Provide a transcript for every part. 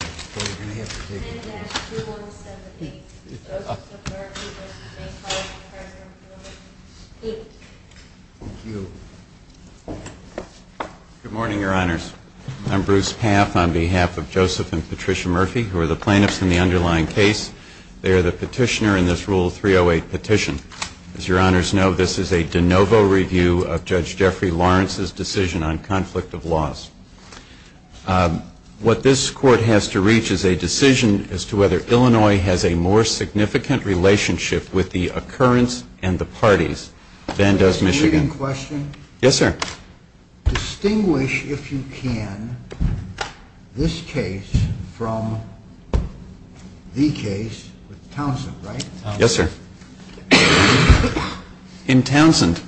Good morning, Your Honors. I'm Bruce Paff on behalf of Joseph and Patricia Murphy, who are the plaintiffs in the underlying case. They are the petitioner in this Rule 308 petition. As Your Honors know, this is a de novo review of Judge Jeffrey Lawrence's decision on conflict of laws. What this Court has to reach is a decision as to whether Illinois has a more significant relationship with the occurrence and the parties than does Michigan. Can I ask a reading question? Yes, sir. Distinguish, if you can, this case from the case with Townsend, right? Yes, sir. In Townsend,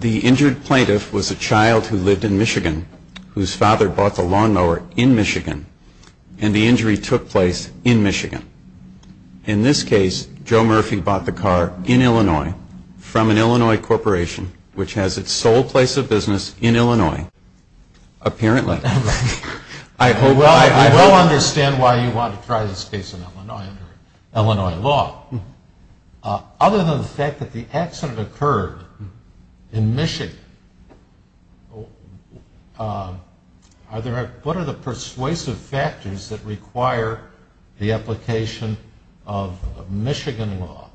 the injured plaintiff was a child who lived in Michigan, whose father bought the lawnmower in Michigan, and the injury took place in Michigan. In this case, Joe Murphy bought the car in Illinois from an Illinois corporation, which has its sole place of business in Illinois, apparently. I hope I've... Other than the fact that the accident occurred in Michigan, what are the persuasive factors that require the application of Michigan law?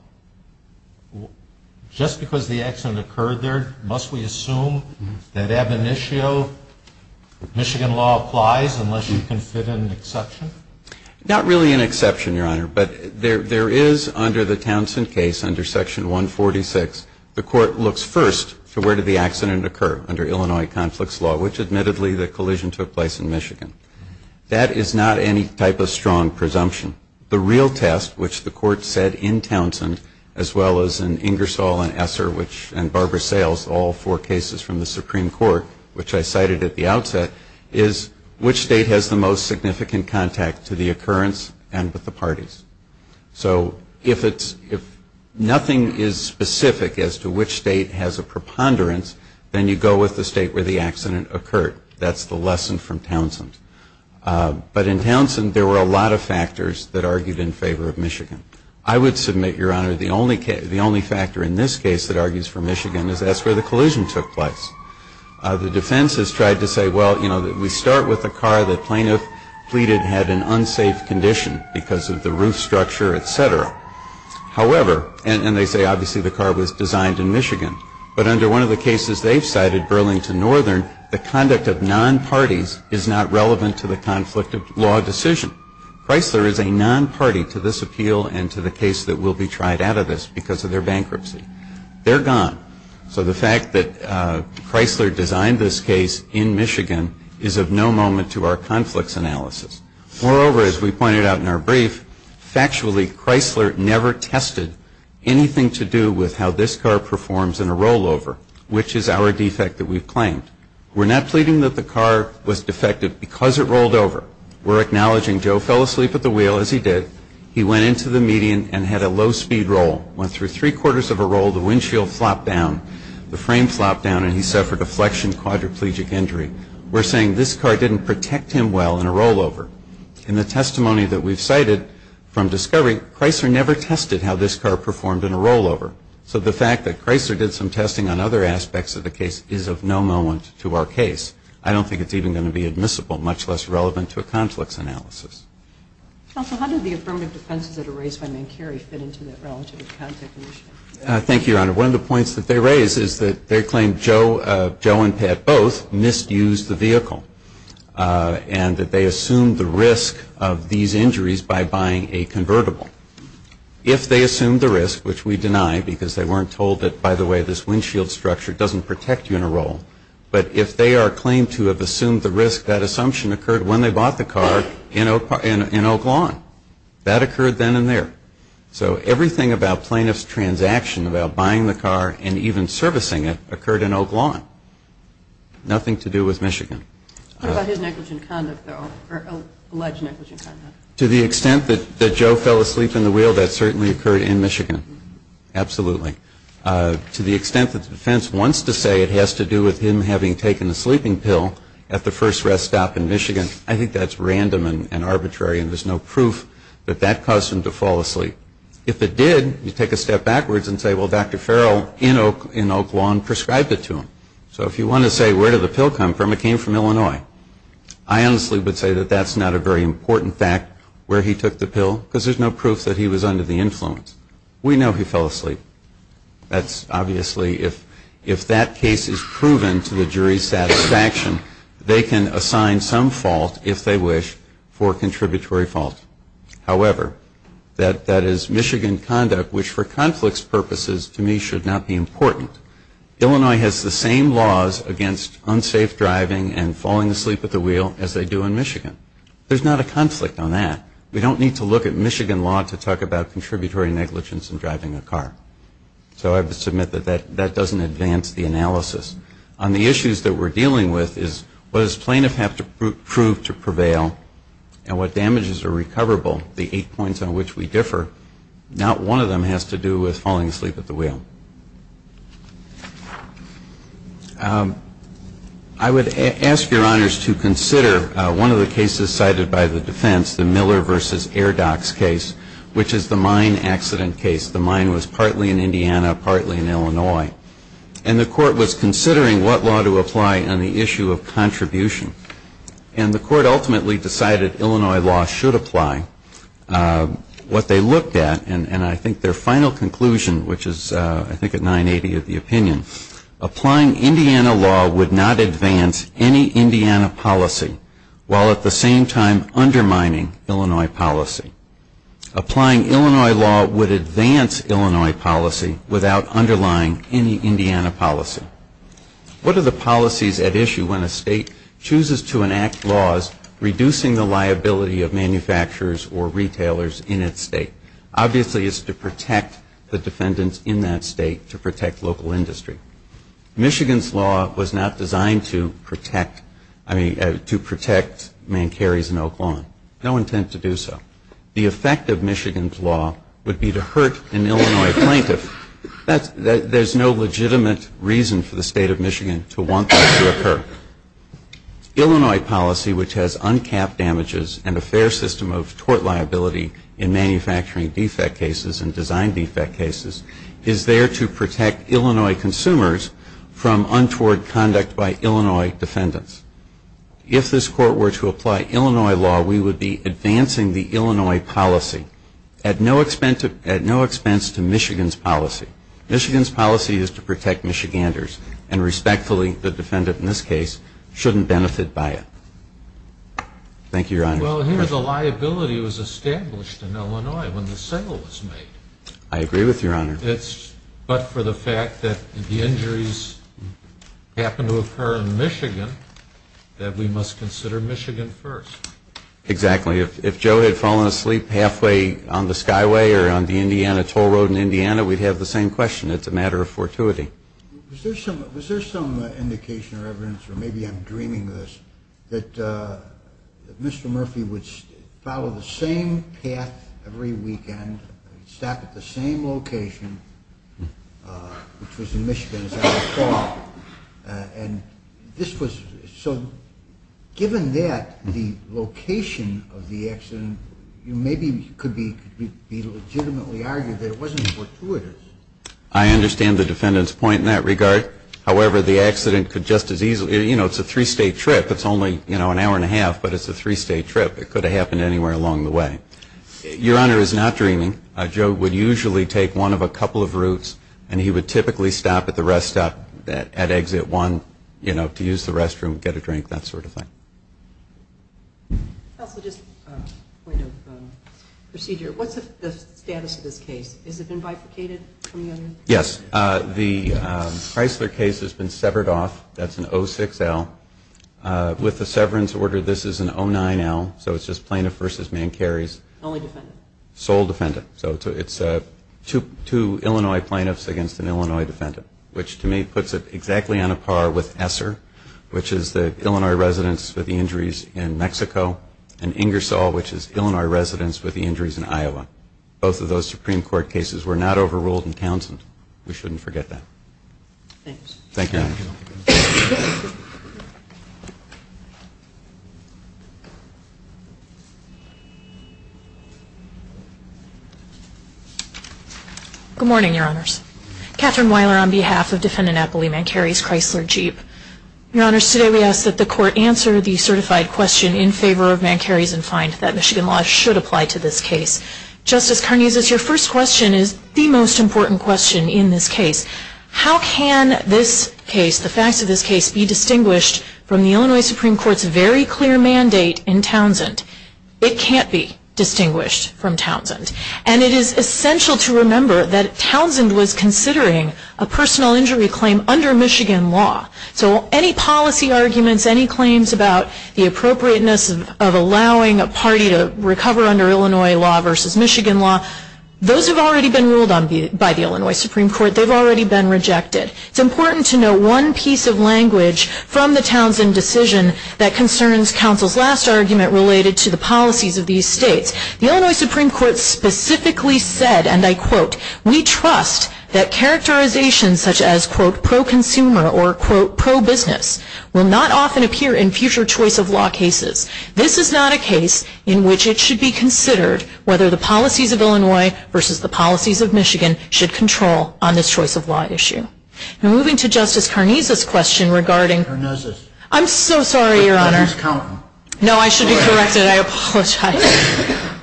Just because the accident occurred there, must we assume that ab initio Michigan law applies unless you can fit in an exception? Not really an exception, Your Honor, but there is, under the Townsend case, under Section 146, the Court looks first to where did the accident occur under Illinois conflicts law, which admittedly the collision took place in Michigan. That is not any type of strong presumption. The real test, which the Court said in Townsend, as well as in Ingersoll and Esser and Barbara Sales, all four cases from the Supreme Court, which I cited at the to the occurrence and with the parties. So if nothing is specific as to which state has a preponderance, then you go with the state where the accident occurred. That's the lesson from Townsend. But in Townsend, there were a lot of factors that argued in favor of Michigan. I would submit, Your Honor, the only factor in this case that argues for Michigan is that's where the collision took place. The defense has tried to say, well, you know, we start with a car that plaintiff pleaded had an unsafe condition because of the roof structure, et cetera. However, and they say obviously the car was designed in Michigan, but under one of the cases they've cited, Burlington Northern, the conduct of non-parties is not relevant to the conflict of law decision. Chrysler is a non-party to this appeal and to the case that will be tried out of this because of their bankruptcy. They're gone. So the fact that Chrysler designed this case in Michigan is of no moment to our conflicts analysis. Moreover, as we pointed out in our brief, factually Chrysler never tested anything to do with how this car performs in a rollover, which is our defect that we've claimed. We're not pleading that the car was defective because it rolled over. We're acknowledging Joe fell asleep at the wheel, as he did. He went into the median and had a low-speed roll, went through three quarters of a roll, the windshield flopped down, the frame flopped down, and he suffered a flexion quadriplegic injury. We're saying this car didn't protect him well in a rollover. In the testimony that we've cited from discovery, Chrysler never tested how this car performed in a rollover. So the fact that Chrysler did some testing on other aspects of the case is of no moment to our case. I don't think it's even going to be admissible, much less relevant to a conflicts analysis. Counsel, how did the affirmative defenses that are raised by Mankieri fit into the relative context of the issue? Thank you, Your Honor. One of the points that they raised is that they claim Joe and Pat both misused the vehicle and that they assumed the risk of these injuries by buying a convertible. If they assumed the risk, which we deny because they weren't told that by the way this windshield structure doesn't protect you in a roll, but if they are claimed to have assumed the car in Oak Lawn, that occurred then and there. So everything about plaintiff's transaction about buying the car and even servicing it occurred in Oak Lawn. Nothing to do with Michigan. What about his negligent conduct, though, or alleged negligent conduct? To the extent that Joe fell asleep in the wheel, that certainly occurred in Michigan. Absolutely. To the extent that the defense wants to say it has to do with him having taken a sleeping pill at the first rest stop in Michigan, I think that's random and arbitrary and there's no proof that that caused him to fall asleep. If it did, you take a step backwards and say, well, Dr. Farrell in Oak Lawn prescribed it to him. So if you want to say where did the pill come from, it came from Illinois. I honestly would say that that's not a very important fact where he took the pill because there's no proof that he was under the influence. We know he fell asleep. That's obviously if that case is proven to the jury's satisfaction, they can assign some fault, if they wish, for contributory fault. However, that is Michigan conduct, which for conflicts purposes to me should not be important. Illinois has the same laws against unsafe driving and falling asleep at the wheel as they do in Michigan. There's not a conflict on that. We don't need to look at Michigan law to talk about contributory negligence in driving a car. So I submit that that doesn't advance the analysis. On the issues that we're dealing with is what does plaintiff have to prove to prevail and what damages are recoverable? The eight points on which we differ, not one of them has to do with falling asleep at the wheel. I would ask your honors to consider one of the cases cited by the defense, the Miller v. Airdox case, which is the mine accident case. The mine was partly in Indiana, partly in Illinois. And the court was considering what law to apply on the issue of contribution. And the court ultimately decided Illinois law should apply. What they looked at, and I think their final conclusion, which is I think at 980 of the opinion, applying Indiana law would not advance any Indiana policy while at the same time undermining Illinois policy. Applying Illinois law would advance Illinois policy without underlying any Indiana policy. What are the policies at issue when a state chooses to enact laws reducing the liability of manufacturers or retailers in its state? Obviously it's to protect the defendants in that state, to protect local industry. Michigan's law was not designed to protect, I mean to the effect of Michigan's law would be to hurt an Illinois plaintiff. There's no legitimate reason for the state of Michigan to want that to occur. Illinois policy, which has uncapped damages and a fair system of tort liability in manufacturing defect cases and design defect cases, is there to protect Illinois consumers from untoward conduct by Illinois defendants. If this court were to apply Illinois law, we would be advancing the Illinois policy at no expense to Michigan's policy. Michigan's policy is to protect Michiganders and respectfully the defendant in this case shouldn't benefit by it. Thank you, Your Honor. Well, here the liability was established in Illinois when the sale was made. I agree with you, Your Honor. But for the fact that the injuries happened to occur in Michigan, that we must consider Michigan first. Exactly. If Joe had fallen asleep halfway on the Skyway or on the Indiana toll road in Indiana, we'd have the same question. It's a matter of fortuity. Was there some indication or evidence, or maybe I'm dreaming this, that Mr. Murphy would follow the same path every weekend, stop at the same location, which was in Michigan's case. The location of the accident maybe could be legitimately argued that it wasn't fortuitous. I understand the defendant's point in that regard. However, the accident could just as easily, you know, it's a three-state trip. It's only, you know, an hour and a half, but it's a three-state trip. It could have happened anywhere along the way. Your Honor is not dreaming. Joe would usually take one of a couple of routes, and he would typically stop at the rest stop at Exit 1, you know, to use the restroom, get a drink, that sort of thing. Counsel, just a point of procedure. What's the status of this case? Has it been bifurcated from the others? Yes. The Chrysler case has been severed off. That's an 06L. With the severance order, this is an 09L, so it's just plaintiff versus man carries. Only defendant? Sole defendant. So it's two Illinois plaintiffs against an Illinois defendant, which to me in Mexico, and Ingersoll, which is Illinois residents with the injuries in Iowa. Both of those Supreme Court cases were not overruled in Townsend. We shouldn't forget that. Thank you, Your Honor. Good morning, Your Honors. Kathryn Weiler on behalf of Defendant Eppley Mancari's Chrysler Jeep. Your Honors, today we ask that the Court answer the certified question in favor of Mancari's and find that Michigan law should apply to this case. Justice Karnes, your first question is the most important question in this case. How can this case, the facts of this case, be distinguished from the Illinois Supreme Court's very clear mandate in Townsend? It can't be distinguished from Townsend. And it is essential to remember that Townsend was considering a personal injury claim under Michigan law. So any policy arguments, any claims about the appropriateness of allowing a party to recover under Illinois law versus Michigan law, those have already been ruled by the Illinois Supreme Court. They've already been rejected. It's important to know one piece of language from the Townsend decision that concerns counsel's last argument related to the policies of these states. The Illinois Supreme Court has said that characterizations such as, quote, pro-consumer or, quote, pro-business will not often appear in future choice of law cases. This is not a case in which it should be considered whether the policies of Illinois versus the policies of Michigan should control on this choice of law issue. And moving to Justice Karnes' question regarding I'm so sorry, Your Honor. No, I should be corrected. I apologize.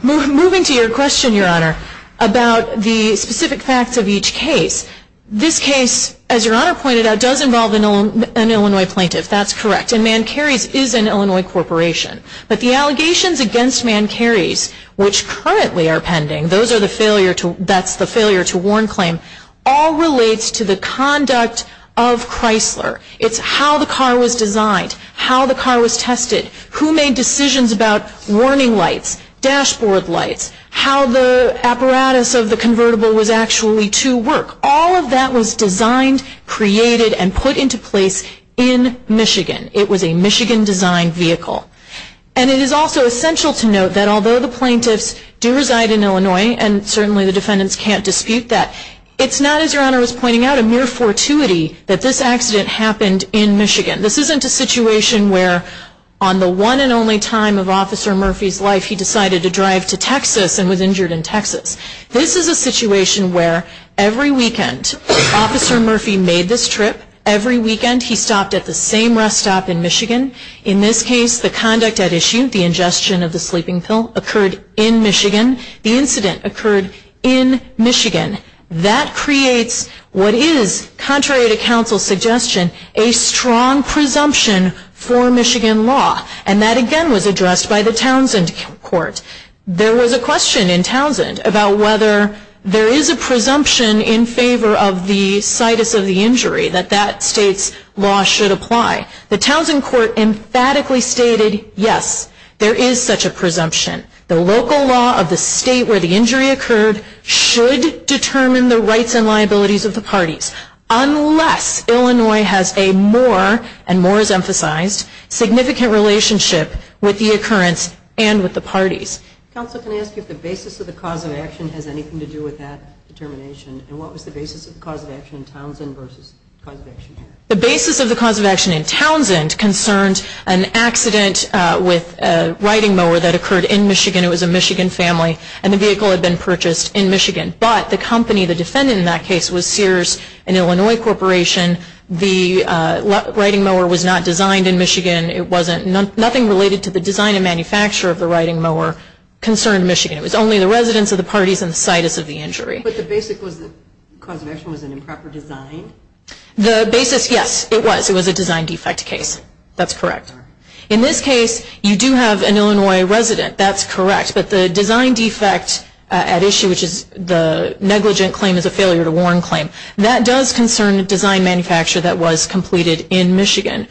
Moving to your question, Your Honor, about the specific facts of each case, this case, as Your Honor pointed out, does involve an Illinois plaintiff. That's correct. And ManCarries is an Illinois corporation. But the allegations against ManCarries, which currently are pending, those are the failure to, that's the failure to warn claim, all relates to the conduct of Chrysler. It's how the car was designed, how the car was tested, who made decisions about warning lights, dashboard lights, how the apparatus of the convertible was actually to work. All of that was designed, created, and put into place in Michigan. It was a Michigan-designed vehicle. And it is also essential to note that although the plaintiffs do reside in Illinois, and certainly the defendants can't dispute that, it's not, as Your Honor was pointing out, a mere fortuity that this accident happened in Michigan. This isn't a situation where on the one and only time of Officer Murphy's life he decided to drive to Texas and was injured in Texas. This is a situation where every weekend Officer Murphy made this trip, every weekend he stopped at the same rest stop in Michigan. In this case, the conduct at issue, the ingestion of the sleeping pill, occurred in Michigan. The incident occurred in Michigan. That creates what is, contrary to counsel's suggestion, a strong presumption for Michigan law. And that again was addressed by the Townsend Court. There was a question in Townsend about whether there is a presumption in favor of the situs of the injury that that state's law should apply. The Townsend Court emphatically stated, yes, there is such a presumption. The local law of the state where the injury occurred should determine the rights and liabilities of the and with the parties. Counsel, can I ask you if the basis of the cause of action has anything to do with that determination? And what was the basis of the cause of action in Townsend versus the cause of action here? The basis of the cause of action in Townsend concerned an accident with a riding mower that occurred in Michigan. It was a Michigan family. And the vehicle had been purchased in Michigan. But the company, the defendant in that case, was Sears and Illinois Corporation. The riding mower was not designed in Michigan. Nothing related to the design and manufacture of the riding mower concerned Michigan. It was only the residence of the parties and the situs of the injury. But the basic cause of action was an improper design? The basis, yes, it was. It was a design defect case. That's correct. In this case, you do have an Illinois resident. That's correct. But the design defect at issue, which is the design defect in Michigan, is a design defect in Michigan.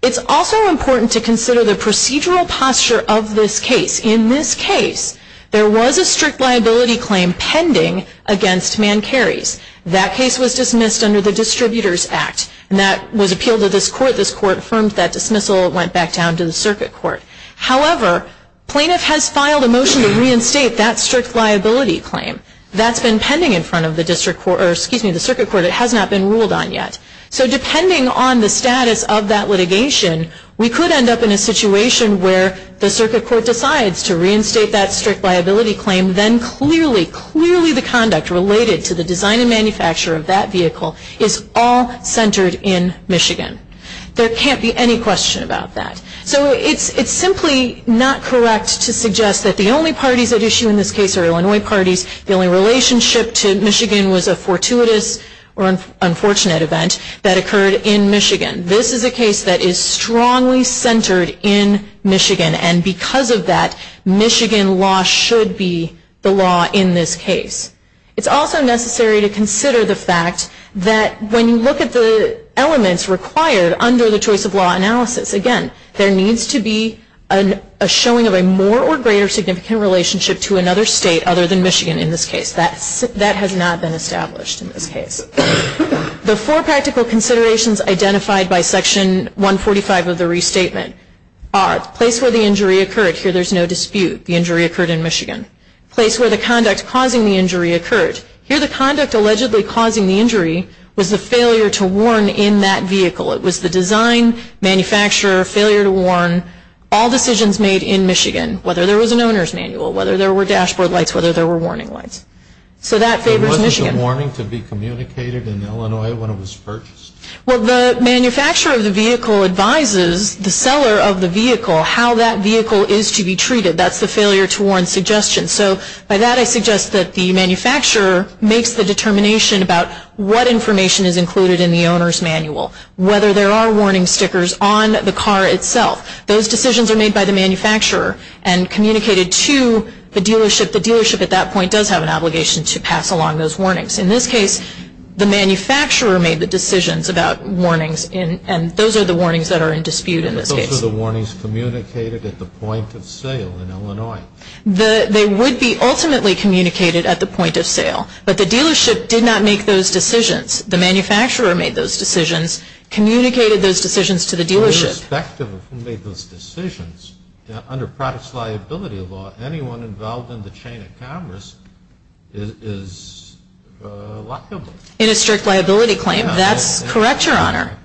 It's also important to consider the procedural posture of this case. In this case, there was a strict liability claim pending against Man Carey's. That case was dismissed under the Distributor's Act. That was appealed to this court. This court affirmed that dismissal. It went back down to the circuit court. However, plaintiff has filed a motion to reinstate that strict liability claim. That's been appealed to the circuit court. It has not been ruled on yet. So depending on the status of that litigation, we could end up in a situation where the circuit court decides to reinstate that strict liability claim. Then clearly, clearly the conduct related to the design and manufacture of that vehicle is all centered in Michigan. There can't be any question about that. So it's simply not correct to suggest that the only parties at issue in this case are Illinois parties. The only relationship to Michigan was a fortuitous or unfortunate event that occurred in Michigan. This is a case that is strongly centered in Michigan. And because of that, Michigan law should be the law in this case. It's also necessary to consider the fact that when you look at the elements required under the choice of law analysis, again, there needs to be a showing of a more or greater significant relationship to another state other than Michigan in this case. That has not been established in this case. The four practical considerations identified by Section 145 of the restatement are place where the injury occurred. Here there's no dispute. The injury occurred in Michigan. Place where the conduct causing the injury occurred. Here the conduct allegedly causing the injury was the failure to warn in that vehicle. It was the design, manufacturer, failure to warn, all decisions made in Michigan, whether there was an owner's manual, whether there were dashboard lights, whether there were warning lights. So that favors Michigan. There wasn't a warning to be communicated in Illinois when it was purchased? Well, the manufacturer of the vehicle advises the seller of the vehicle how that vehicle is to be treated. That's the failure to warn suggestion. So by that I suggest that the manufacturer makes the determination about what information is included in the owner's manual, whether there are warning stickers on the car itself. Those decisions are made by the manufacturer and communicated to the dealership. The dealership at that point does have an obligation to pass along those warnings. In this case, the manufacturer made the decisions about warnings and those are the warnings that are in dispute in this case. But those are the warnings communicated at the point of sale in Illinois? They would be ultimately communicated at the point of sale, but the dealership did not make those decisions. The manufacturer made those decisions, communicated those decisions to the dealership. Irrespective of who made those decisions, under products liability law, anyone involved in the chain of commerce is liable. In a strict liability claim. That's correct, Your Honor.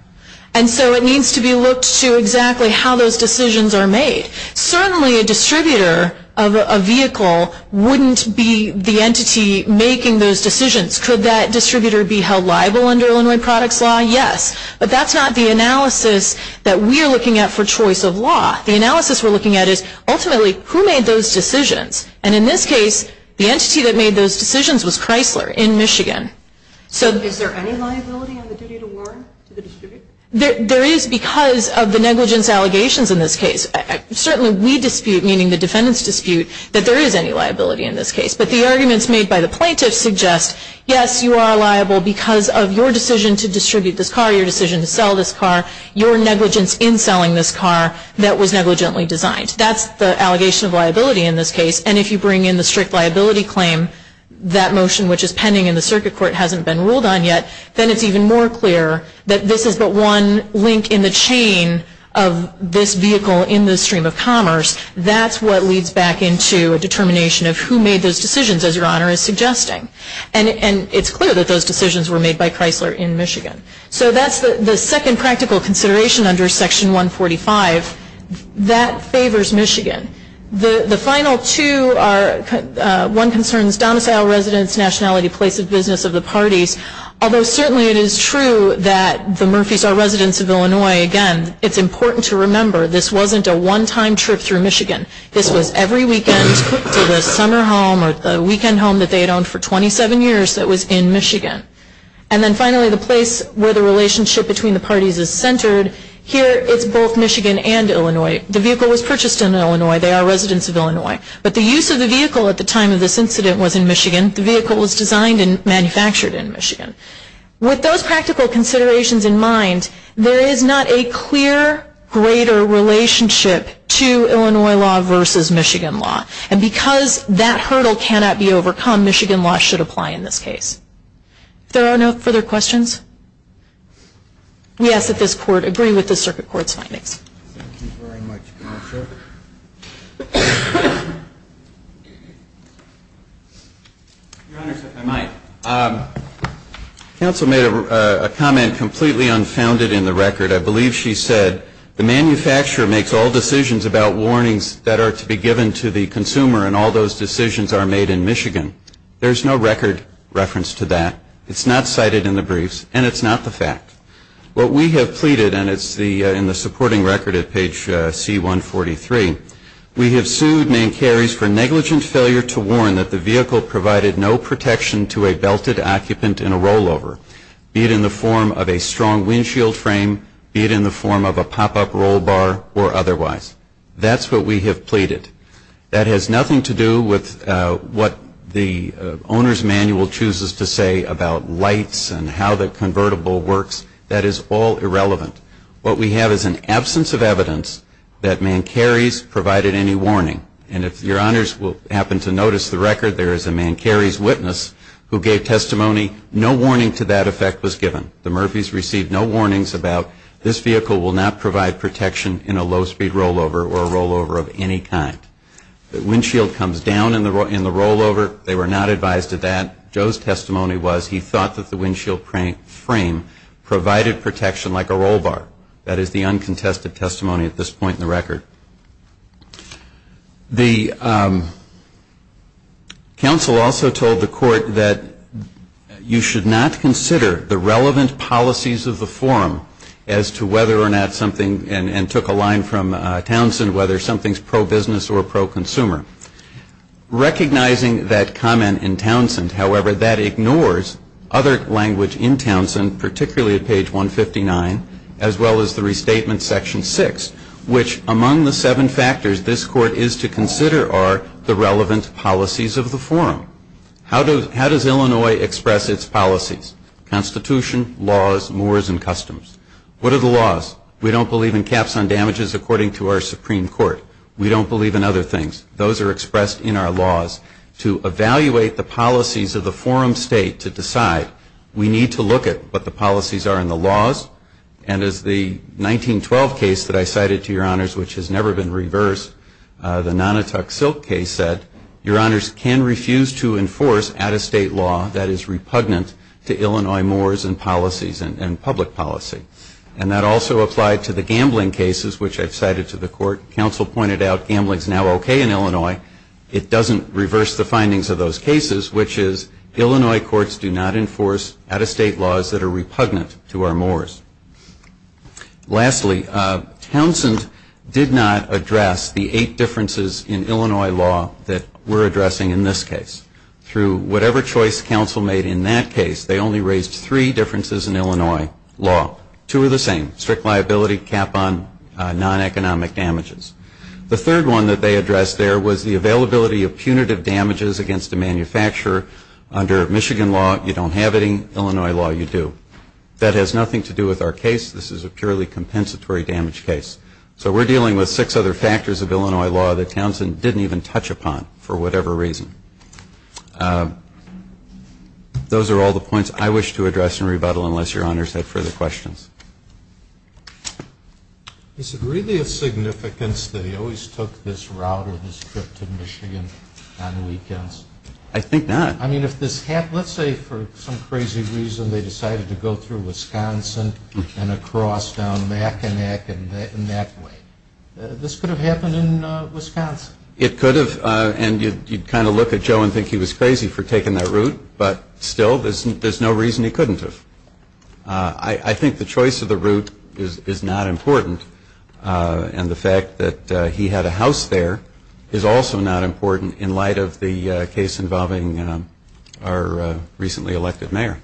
And so it needs to be looked to exactly how those decisions are made. Certainly a distributor of a vehicle wouldn't be the distributor be held liable under Illinois products law? Yes. But that's not the analysis that we are looking at for choice of law. The analysis we're looking at is ultimately who made those decisions. And in this case, the entity that made those decisions was Chrysler in Michigan. So is there any liability on the duty to warn to the distributor? There is because of the negligence allegations in this case. Certainly we dispute, meaning the defendants dispute, that there is any liability in this case. But the arguments made by the plaintiffs suggest, yes, you are liable because of your decision to distribute this car, your decision to sell this car, your negligence in selling this car that was negligently designed. That's the allegation of liability in this case. And if you bring in the strict liability claim, that motion which is pending in the circuit court hasn't been ruled on yet, then it's even more clear that this is but one link in the chain of this vehicle in this stream of commerce. That's what leads back into a determination of who made those decisions, as Your Honor is suggesting. And it's clear that those decisions were made by Chrysler in Michigan. So that's the second practical consideration under Section 145. That favors Michigan. The final two are, one concerns domicile residence, nationality, place of business of the parties. Although certainly it is true that the Murphys are residents of Illinois, again, it's important to remember this wasn't a one-time trip through Michigan. This was every weekend to the summer home or the weekend home that they had owned for 27 years that was in Michigan. And then finally, the place where the relationship between the parties is centered, here it's both Michigan and Illinois. The vehicle was purchased in Illinois. They are residents of Illinois. But the use of the vehicle at the time of this incident was in Michigan. The vehicle was designed and manufactured in Michigan. With those practical considerations in mind, there is not a clear greater relationship to Illinois law versus Michigan law. And because that hurdle cannot be overcome, Michigan law should apply in this case. If there are no further questions, we ask that this Court agree with the Circuit Court's findings. Thank you very much, Counsel. Your Honor, if I might. Counsel made a comment completely unfounded in the record. I believe she said, the manufacturer makes all decisions about warnings that are to be given to the consumer, and all those decisions are made in Michigan. There is no record reference to that. It's not cited in the briefs, and it's not the fact. What we have pleaded, and it's in the supporting record at page C-143, we have sued Main Carries for negligent failure to warn that the vehicle provided no protection to a belted occupant in a rollover, be it in the form of a strong windshield frame, be it in the form of a pop-up roll bar, or otherwise. That's what we have pleaded. That has nothing to do with what the Owner's Manual chooses to say about lights and how the convertible works. That is all irrelevant. What we have is an absence of evidence that Main Carries provided any warning. And if your Honors happen to notice the record, there is a Main Carries witness who gave testimony. No warning to that effect was given. The Murphys received no warnings about this vehicle will not provide protection in a low-speed rollover or a rollover of any kind. The windshield comes down in the rollover. They were not advised of that. Joe's testimony was he thought that the windshield frame provided protection like a roll bar. The counsel also told the court that you should not consider the relevant policies of the forum as to whether or not something, and took a line from Townsend, whether something is pro-business or pro-consumer. Recognizing that comment in Townsend, however, that ignores other language in Townsend, particularly at page 159, as well as the restatement section 6, which among the seven factors this court is to consider are the relevant policies of the forum. How does Illinois express its policies? Constitution, laws, moors, and customs. What are the laws? We don't believe in caps on damages according to our Supreme Court. We don't believe in other things. Those are expressed in our laws. To evaluate the policies of the forum state to decide, we need to look at what the policies are in the laws. And as the 1912 case that I cited to your honors, which has never been reversed, the Nonotuck Silk case said, your honors can refuse to enforce out-of-state law that is repugnant to Illinois moors and policies and public policy. And that also applied to the gambling cases, which I've cited to the court. Counsel pointed out gambling is now okay in Illinois. It doesn't reverse the findings of those cases, which is Illinois courts do not enforce out-of-state laws that are repugnant to our moors. Lastly, Townsend did not address the eight differences in Illinois law that we're addressing in this case. Through whatever choice counsel made in that case, they only raised three differences in Illinois law. Two are the same. Strict liability, cap on non-economic damages. The third one that they addressed there was the availability of punitive damages against a manufacturer. Under Michigan law, you don't have any. Illinois law, you do. That has nothing to do with our case. This is a purely compensatory damage case. So we're dealing with six other factors of Illinois law that Townsend didn't even touch upon for whatever reason. Those are all the points I wish to address and rebuttal unless your honors have further questions. Is it really of significance that he always took this route or this trip to Michigan on weekends? I think not. I mean, if this happened, let's say for some crazy reason they decided to go through Wisconsin and across down Mackinac and that way. This could have happened in Wisconsin. It could have. And you'd kind of look at Joe and think he was crazy for taking that route. But still, there's no reason he couldn't have. I think the choice of the route is not important. And the fact that he had a house there is also not important in light of the case involving our recently elected mayor.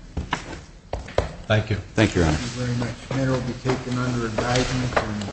Thank you. Thank you, your honor. Thank you very much. The mayor will be taken under advisement.